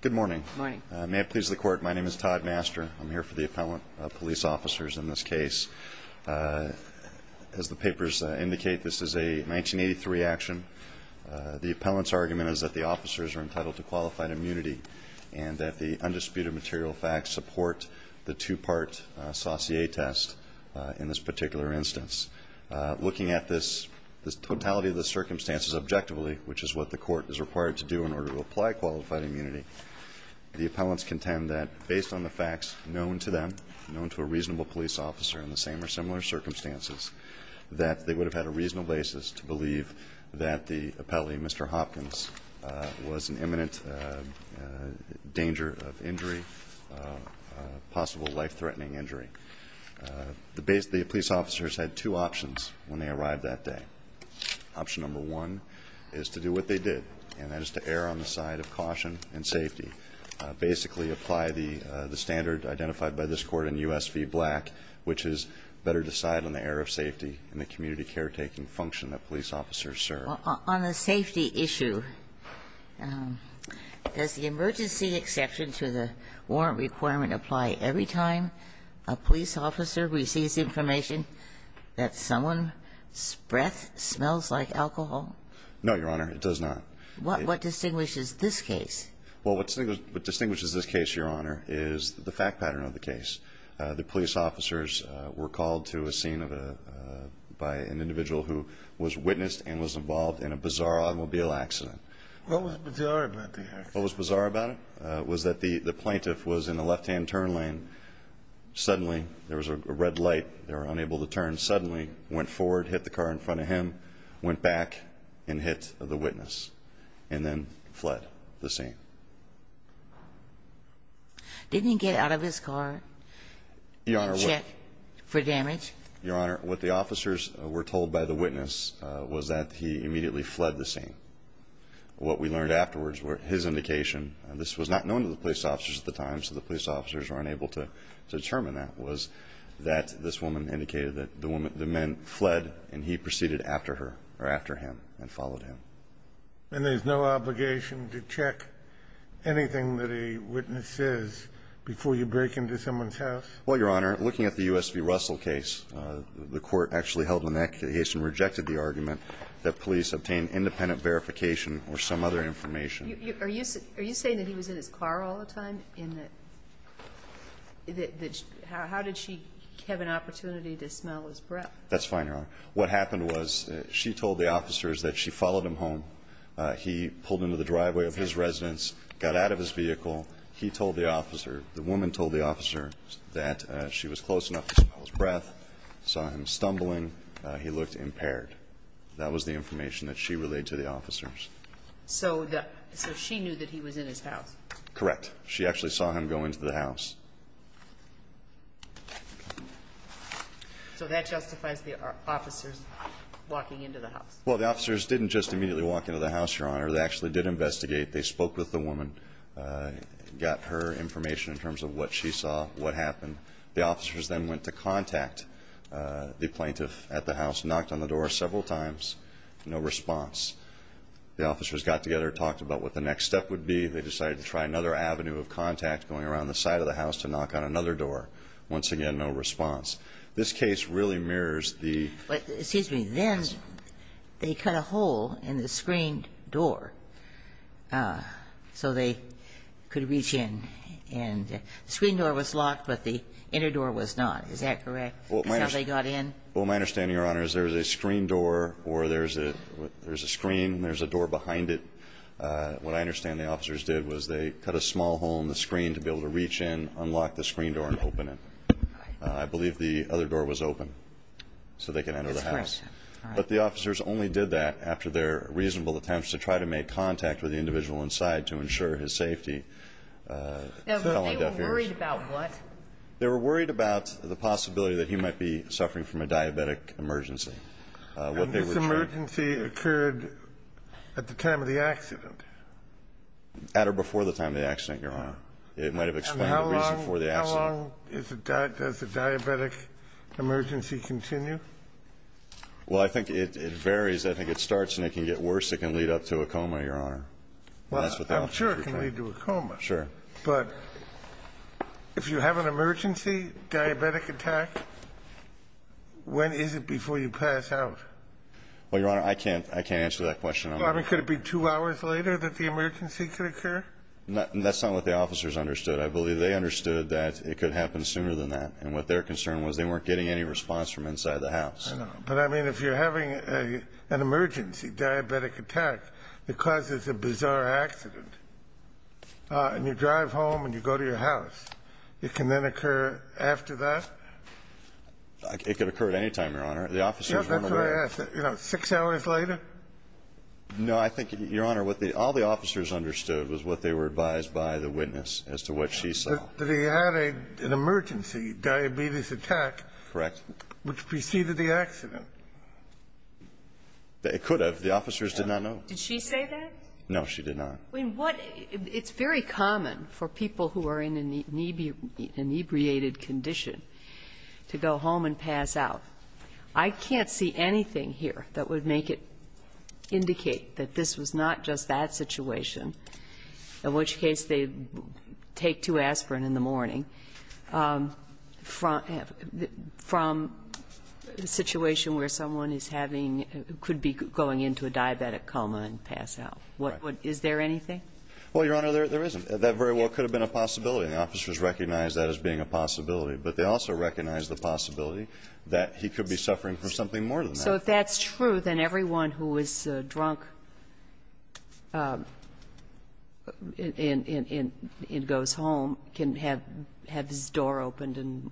Good morning. May it please the court, my name is Todd Master. I'm here for the As the papers indicate, this is a 1983 action. The appellant's argument is that the officers are entitled to qualified immunity and that the undisputed material facts support the two-part Saussure test in this particular instance. Looking at this totality of the circumstances objectively, which is what the court is required to do in order to apply qualified immunity, the appellants contend that based on the facts known to them, known to a reasonable police officer in the same or similar circumstances, that they would have had a reasonable basis to believe that the appellee, Mr. Hopkins, was in imminent danger of injury, possible life-threatening injury. The police officers had two options when they arrived that day. Option number one is to do what they did, and that is to err on the side of caution and safety, basically apply the standard identified by this Court in U.S. v. Black, which is better decide on the error of safety and the community caretaking function that police officers serve. On the safety issue, does the emergency exception to the warrant requirement apply every time a police officer receives information that someone's breath smells like alcohol? No, Your Honor. It does not. What distinguishes this case? Well, what distinguishes this case, Your Honor, is the fact pattern of the case. The police officers were called to a scene by an individual who was witnessed and was involved in a bizarre automobile accident. What was bizarre about the accident? What was bizarre about it was that the plaintiff was in a left-hand turn lane. Suddenly, there was a red light. They were unable to turn. Suddenly, went forward, hit the car in front of him, went back and hit the witness, and then fled the scene. Didn't he get out of his car and check for damage? Your Honor, what the officers were told by the witness was that he immediately fled the scene. What we learned afterwards were his indication. This was not known to the police officers at the time, so the police officers were unable to determine that, was that this woman indicated that the men fled and he proceeded after her or after him and followed him. And there's no obligation to check anything that a witness says before you break into someone's house? Well, Your Honor, looking at the U.S. v. Russell case, the court actually held in that case and rejected the argument that police obtained independent verification or some other information. Are you saying that he was in his car all the time? How did she have an opportunity to smell his breath? That's fine, Your Honor. What happened was she told the officers that she followed him home. He pulled into the driveway of his residence, got out of his vehicle. He told the officer, the woman told the officer, that she was close enough to smell his breath, saw him stumbling. He looked impaired. That was the information that she relayed to the officers. So she knew that he was in his house? Correct. She actually saw him go into the house. So that justifies the officers walking into the house? Well, the officers didn't just immediately walk into the house, Your Honor. They actually did investigate. They spoke with the woman, got her information in terms of what she saw, what happened. The officers then went to contact the plaintiff at the house, knocked on the door several times, no response. The officers got together, talked about what the next step would be. They decided to try another avenue of contact, going around the side of the house to knock on another door. Once again, no response. This case really mirrors the... Excuse me. Then they cut a hole in the screen door so they could reach in. And the screen door was locked, but the inner door was not. Is that correct? Well, my... That's how they got in? Well, my understanding, Your Honor, is there's a screen door or there's a screen and there's a door behind it. What I understand the officers did was they cut a small hole in the screen to be able to reach in, unlock the screen door and open it. I believe the other door was open so they could enter the house. That's correct. But the officers only did that after their reasonable attempts to try to make contact with the individual inside to ensure his safety. They were worried about what? They were worried about the possibility that he might be suffering from a diabetic emergency. And this emergency occurred at the time of the accident? At or before the time of the accident, Your Honor. It might have explained the reason for the accident. And how long does a diabetic emergency continue? Well, I think it varies. I think it starts and it can get worse. It can lead up to a coma, Your Honor. Well, I'm sure it can lead to a coma. Sure. But if you have an emergency diabetic attack, when is it before you pass out? Well, Your Honor, I can't answer that question. I mean, could it be two hours later that the emergency could occur? That's not what the officers understood. I believe they understood that it could happen sooner than that. And what their concern was they weren't getting any response from inside the house. I know. But I mean, if you're having an emergency diabetic attack that causes a bizarre accident, and you drive home and you go to your house, it can then occur after that? It could occur at any time, Your Honor. The officers weren't aware. Yeah, that's what I asked. You know, six hours later? No, I think, Your Honor, all the officers understood was what they were advised by the witness as to what she saw. But they had an emergency diabetes attack. Correct. Which preceded the accident. It could have. The officers did not know. Did she say that? No, she did not. I mean, what the ---- it's very common for people who are in an inebriated condition to go home and pass out. I can't see anything here that would make it indicate that this was not just that from a situation where someone is having ---- could be going into a diabetic coma and pass out. Right. Is there anything? Well, Your Honor, there isn't. That very well could have been a possibility, and the officers recognized that as being a possibility. But they also recognized the possibility that he could be suffering from something more than that. So if that's true, then everyone who is drunk and goes home can have his door opened and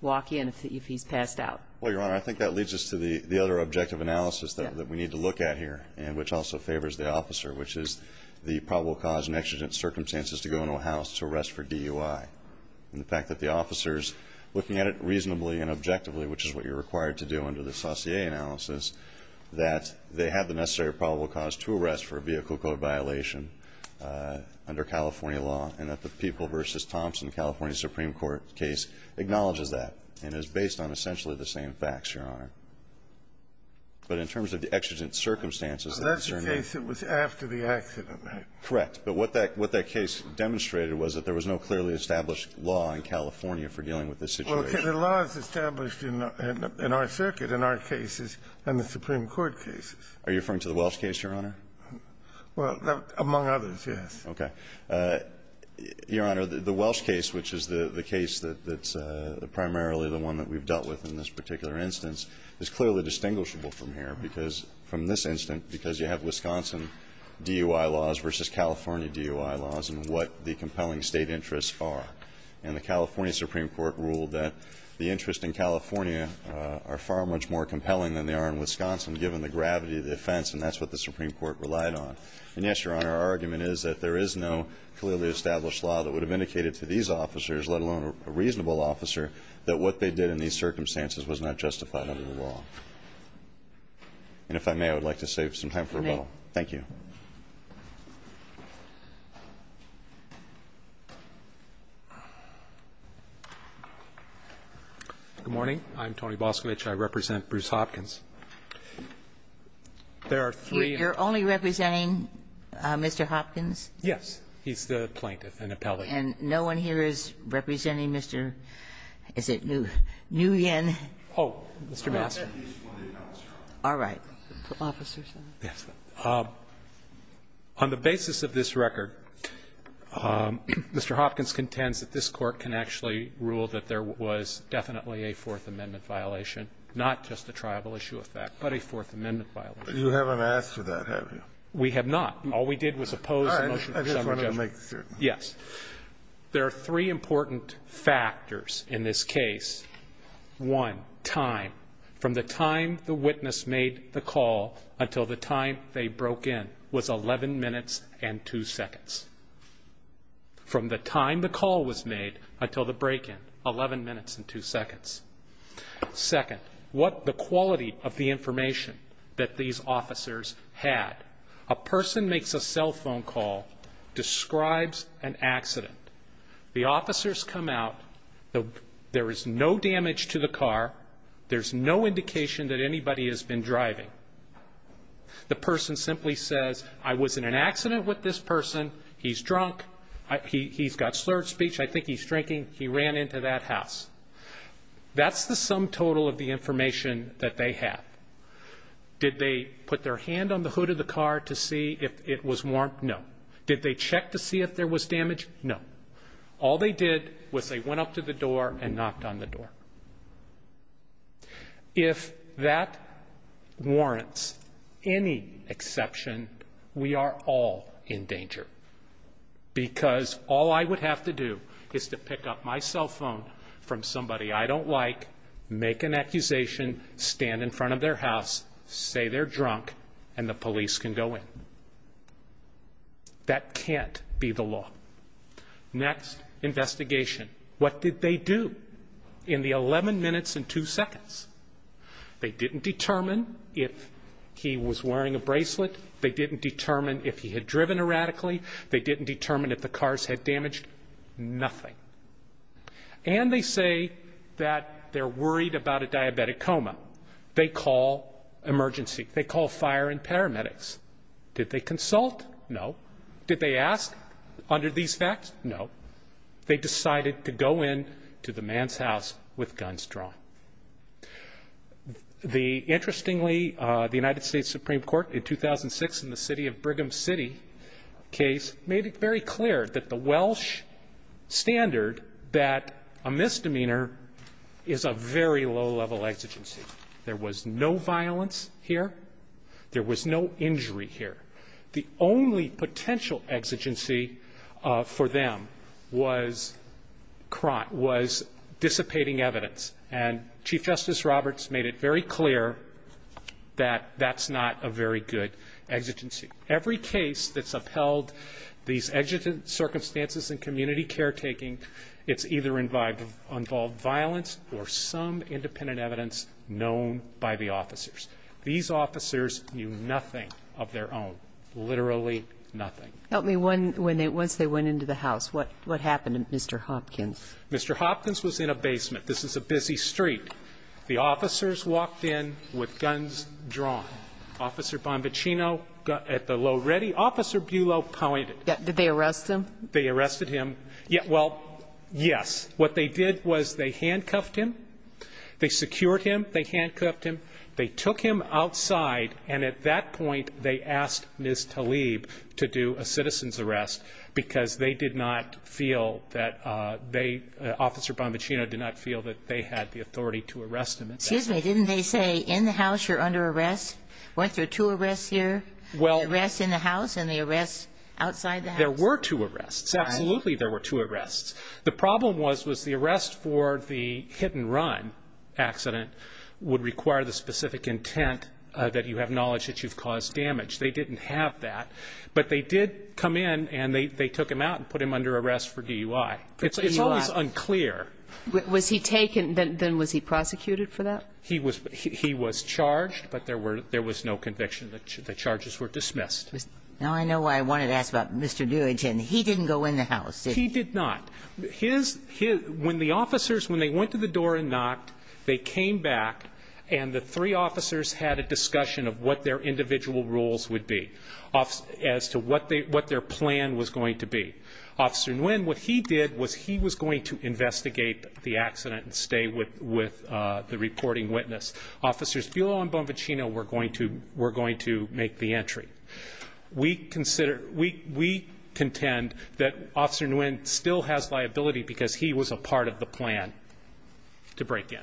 walk in if he's passed out. Well, Your Honor, I think that leads us to the other objective analysis that we need to look at here, which also favors the officer, which is the probable cause and exigent circumstances to go into a house to arrest for DUI. And the fact that the officers, looking at it reasonably and objectively, which is what you're required to do under the Saussure analysis, that they have the necessary probable cause to arrest for a vehicle code violation under California law, and that the People v. Thompson California Supreme Court case acknowledges that and is based on essentially the same facts, Your Honor. But in terms of the exigent circumstances ---- So that's the case that was after the accident, right? Correct. But what that case demonstrated was that there was no clearly established law in California for dealing with this situation. Well, the law is established in our circuit, in our cases, and the Supreme Court cases. Are you referring to the Welsh case, Your Honor? Well, among others, yes. Okay. Your Honor, the Welsh case, which is the case that's primarily the one that we've dealt with in this particular instance, is clearly distinguishable from here because you have Wisconsin DUI laws versus California DUI laws and what the compelling State interests are. And the California Supreme Court ruled that the interests in California are far much more compelling than they are in Wisconsin, given the gravity of the offense, and that's what the Supreme Court relied on. And, yes, Your Honor, our argument is that there is no clearly established law that would have indicated to these officers, let alone a reasonable officer, that what they did in these circumstances was not justified under the law. And if I may, I would like to save some time for rebuttal. Thank you. Good morning. I'm Tony Boscovich. I represent Bruce Hopkins. There are three. You're only representing Mr. Hopkins? Yes. He's the plaintiff and appellate. And no one here is representing Mr. Is it Nguyen? Oh, Mr. Baskin. All right. Yes. On the basis of this record, Mr. Hopkins contends that this Court can actually rule that there was definitely a Fourth Amendment violation, not just a tribal issue of fact, but a Fourth Amendment violation. You haven't asked for that, have you? We have not. All we did was oppose the motion. I just wanted to make certain. Yes. There are three important factors in this case. One, time. From the time the witness made the call until the time they broke in was 11 minutes and two seconds. From the time the call was made until the break-in, 11 minutes and two seconds. Second, what the quality of the information that these officers had. A person makes a cell phone call, describes an accident. The officers come out. There is no damage to the car. There's no indication that anybody has been driving. The person simply says, I was in an accident with this person. He's drunk. He's got slurred speech. I think he's drinking. He ran into that house. That's the sum total of the information that they have. Did they put their hand on the hood of the car to see if it was warmed? No. Did they check to see if there was damage? No. All they did was they went up to the door and knocked on the door. If that warrants any exception, we are all in danger. Because all I would have to do is to pick up my cell phone from somebody I don't know, call their house, say they're drunk, and the police can go in. That can't be the law. Next, investigation. What did they do in the 11 minutes and two seconds? They didn't determine if he was wearing a bracelet. They didn't determine if he had driven erratically. They didn't determine if the car's head damaged. Nothing. And they say that they're worried about a diabetic coma. They call emergency. They call fire and paramedics. Did they consult? No. Did they ask under these facts? No. They decided to go in to the man's house with guns drawn. Interestingly, the United States Supreme Court in 2006 in the city of that a misdemeanor is a very low-level exigency. There was no violence here. There was no injury here. The only potential exigency for them was dissipating evidence, and Chief Justice Roberts made it very clear that that's not a very good exigency. Every case that's upheld these exigent circumstances in community caretaking, it's either involved violence or some independent evidence known by the officers. These officers knew nothing of their own, literally nothing. Help me once they went into the house. What happened to Mr. Hopkins? Mr. Hopkins was in a basement. This is a busy street. The officers walked in with guns drawn. Officer Bonvaccino got at the low ready. Officer Bulow pointed. Did they arrest him? They arrested him. Well, yes. What they did was they handcuffed him. They secured him. They handcuffed him. They took him outside, and at that point they asked Ms. Tlaib to do a citizen's arrest because they did not feel that they, Officer Bonvaccino did not feel that they had the authority to arrest him at that time. Excuse me. Didn't they say in the house you're under arrest? Weren't there two arrests here? The arrest in the house and the arrest outside the house? There were two arrests. Absolutely there were two arrests. The problem was was the arrest for the hit-and-run accident would require the specific intent that you have knowledge that you've caused damage. They didn't have that. But they did come in and they took him out and put him under arrest for DUI. It's always unclear. Was he taken? Then was he prosecuted for that? He was charged, but there was no conviction. The charges were dismissed. Now I know why I wanted to ask about Mr. Doolittle. He didn't go in the house, did he? He did not. When the officers, when they went to the door and knocked, they came back and the three officers had a discussion of what their individual roles would be as to what their plan was going to be. Officer Nguyen, what he did was he was going to investigate the accident and stay with the reporting witness. Officers Buelow and Bonvaccino were going to make the entry. We contend that Officer Nguyen still has liability because he was a part of the plan to break in,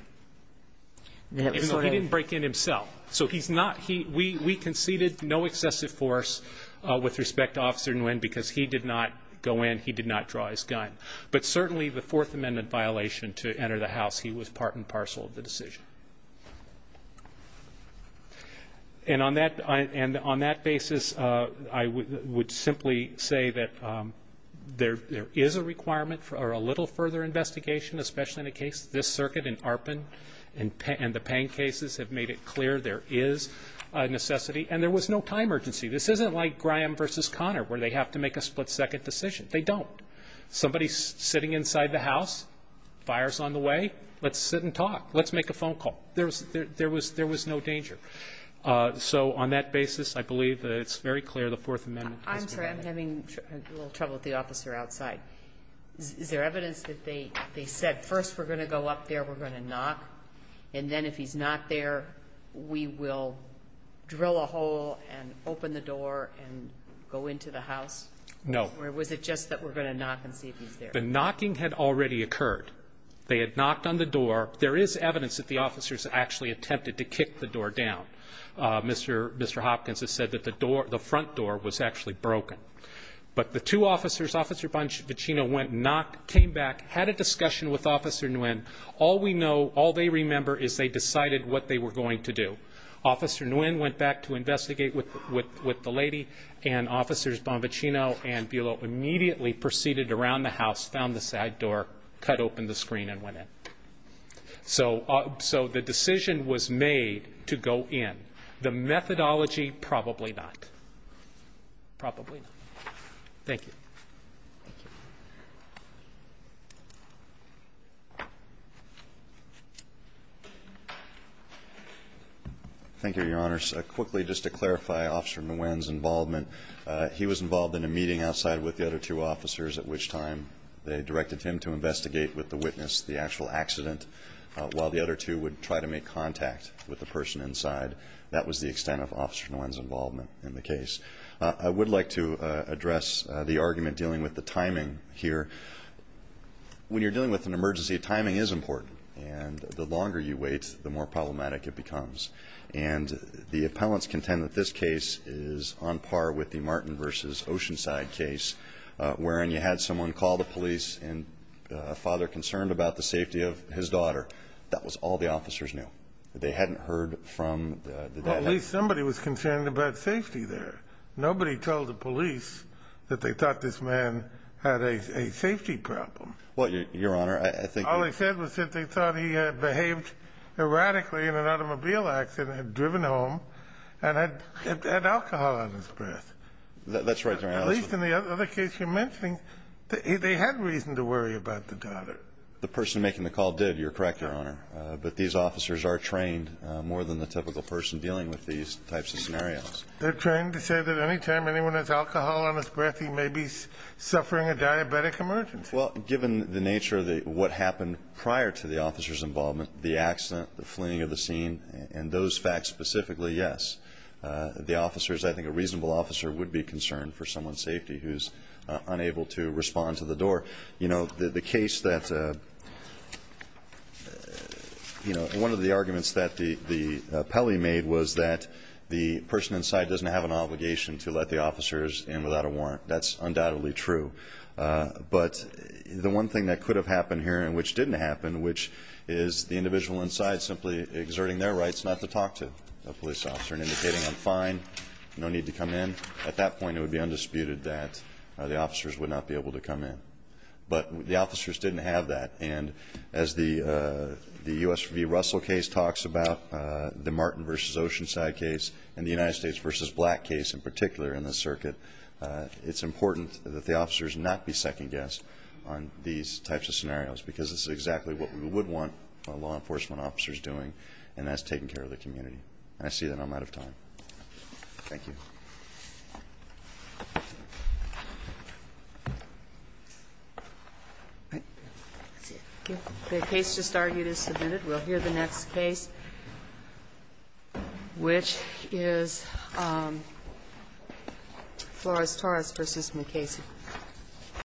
even though he didn't break in himself. So we conceded no excessive force with respect to Officer Nguyen because he did not go in, he did not draw his gun. But certainly the Fourth Amendment violation to enter the house, he was part and parcel of the decision. And on that basis, I would simply say that there is a requirement for a little further investigation, especially in the case of this circuit in Arpin, and the Pang cases have made it clear there is a necessity. And there was no time urgency. This isn't like Graham versus Connor where they have to make a split-second decision. They don't. Somebody's sitting inside the house, fire's on the way, let's sit and talk, let's make a phone call. There was no danger. So on that basis, I believe that it's very clear the Fourth Amendment is violated. I'm sorry, I'm having a little trouble with the officer outside. Is there evidence that they said, first we're going to go up there, we're going to knock, and then if he's not there, we will drill a hole and open the door and go into the house? No. Or was it just that we're going to knock and see if he's there? The knocking had already occurred. They had knocked on the door. There is evidence that the officers actually attempted to kick the door down. Mr. Hopkins has said that the front door was actually broken. But the two officers, Officer Boncino went and knocked, came back, had a discussion with Officer Nguyen. All we know, all they remember, is they decided what they were going to do. Officer Nguyen went back to investigate with the lady, and Officers Boncino and Bulow immediately proceeded around the house, found the side door, cut open the screen, and went in. So the decision was made to go in. The methodology, probably not. Probably not. Thank you. Thank you, Your Honors. Quickly, just to clarify Officer Nguyen's involvement. He was involved in a meeting outside with the other two officers, at which time they directed him to investigate with the witness the actual accident, while the other two would try to make contact with the person inside. That was the extent of Officer Nguyen's involvement in the case. I would like to address the argument dealing with the timing here. When you're dealing with an emergency, timing is important. And the longer you wait, the more problematic it becomes. And the appellants contend that this case is on par with the Martin v. Oceanside case, wherein you had someone call the police and a father concerned about the safety of his daughter. That was all the officers knew. They hadn't heard from the dad. Well, at least somebody was concerned about safety there. Nobody told the police that they thought this man had a safety problem. Well, Your Honor, I think you're right. All they said was that they thought he had behaved erratically in an automobile accident, had driven home, and had alcohol on his breath. That's right, Your Honor. At least in the other case you're mentioning, they had reason to worry about the daughter. The person making the call did. You're correct, Your Honor. But these officers are trained more than the typical person dealing with these types of scenarios. They're trained to say that any time anyone has alcohol on his breath, he may be suffering a diabetic emergency. Well, given the nature of what happened prior to the officers' involvement, the accident, the fleeing of the scene, and those facts specifically, yes. The officers, I think a reasonable officer would be concerned for someone's safety who's unable to respond to the door. You know, the case that, you know, one of the arguments that the appellee made was that the person inside doesn't have an obligation to let the officers in without a warrant. That's undoubtedly true. But the one thing that could have happened here and which didn't happen, which is the individual inside simply exerting their rights not to talk to a police officer and indicating I'm fine, no need to come in, at that point it would be undisputed that the officers would not be able to come in. But the officers didn't have that. And as the U.S. v. Russell case talks about, the Martin v. Oceanside case, and the United States v. Black case in particular in this circuit, it's important that the officers not be second-guessed on these types of scenarios because this is exactly what we would want law enforcement officers doing, and that's taking care of the community. And I see that I'm out of time. Thank you. That's it. The case just argued is submitted. We'll hear the next case, which is Flores-Torres v. McKayson.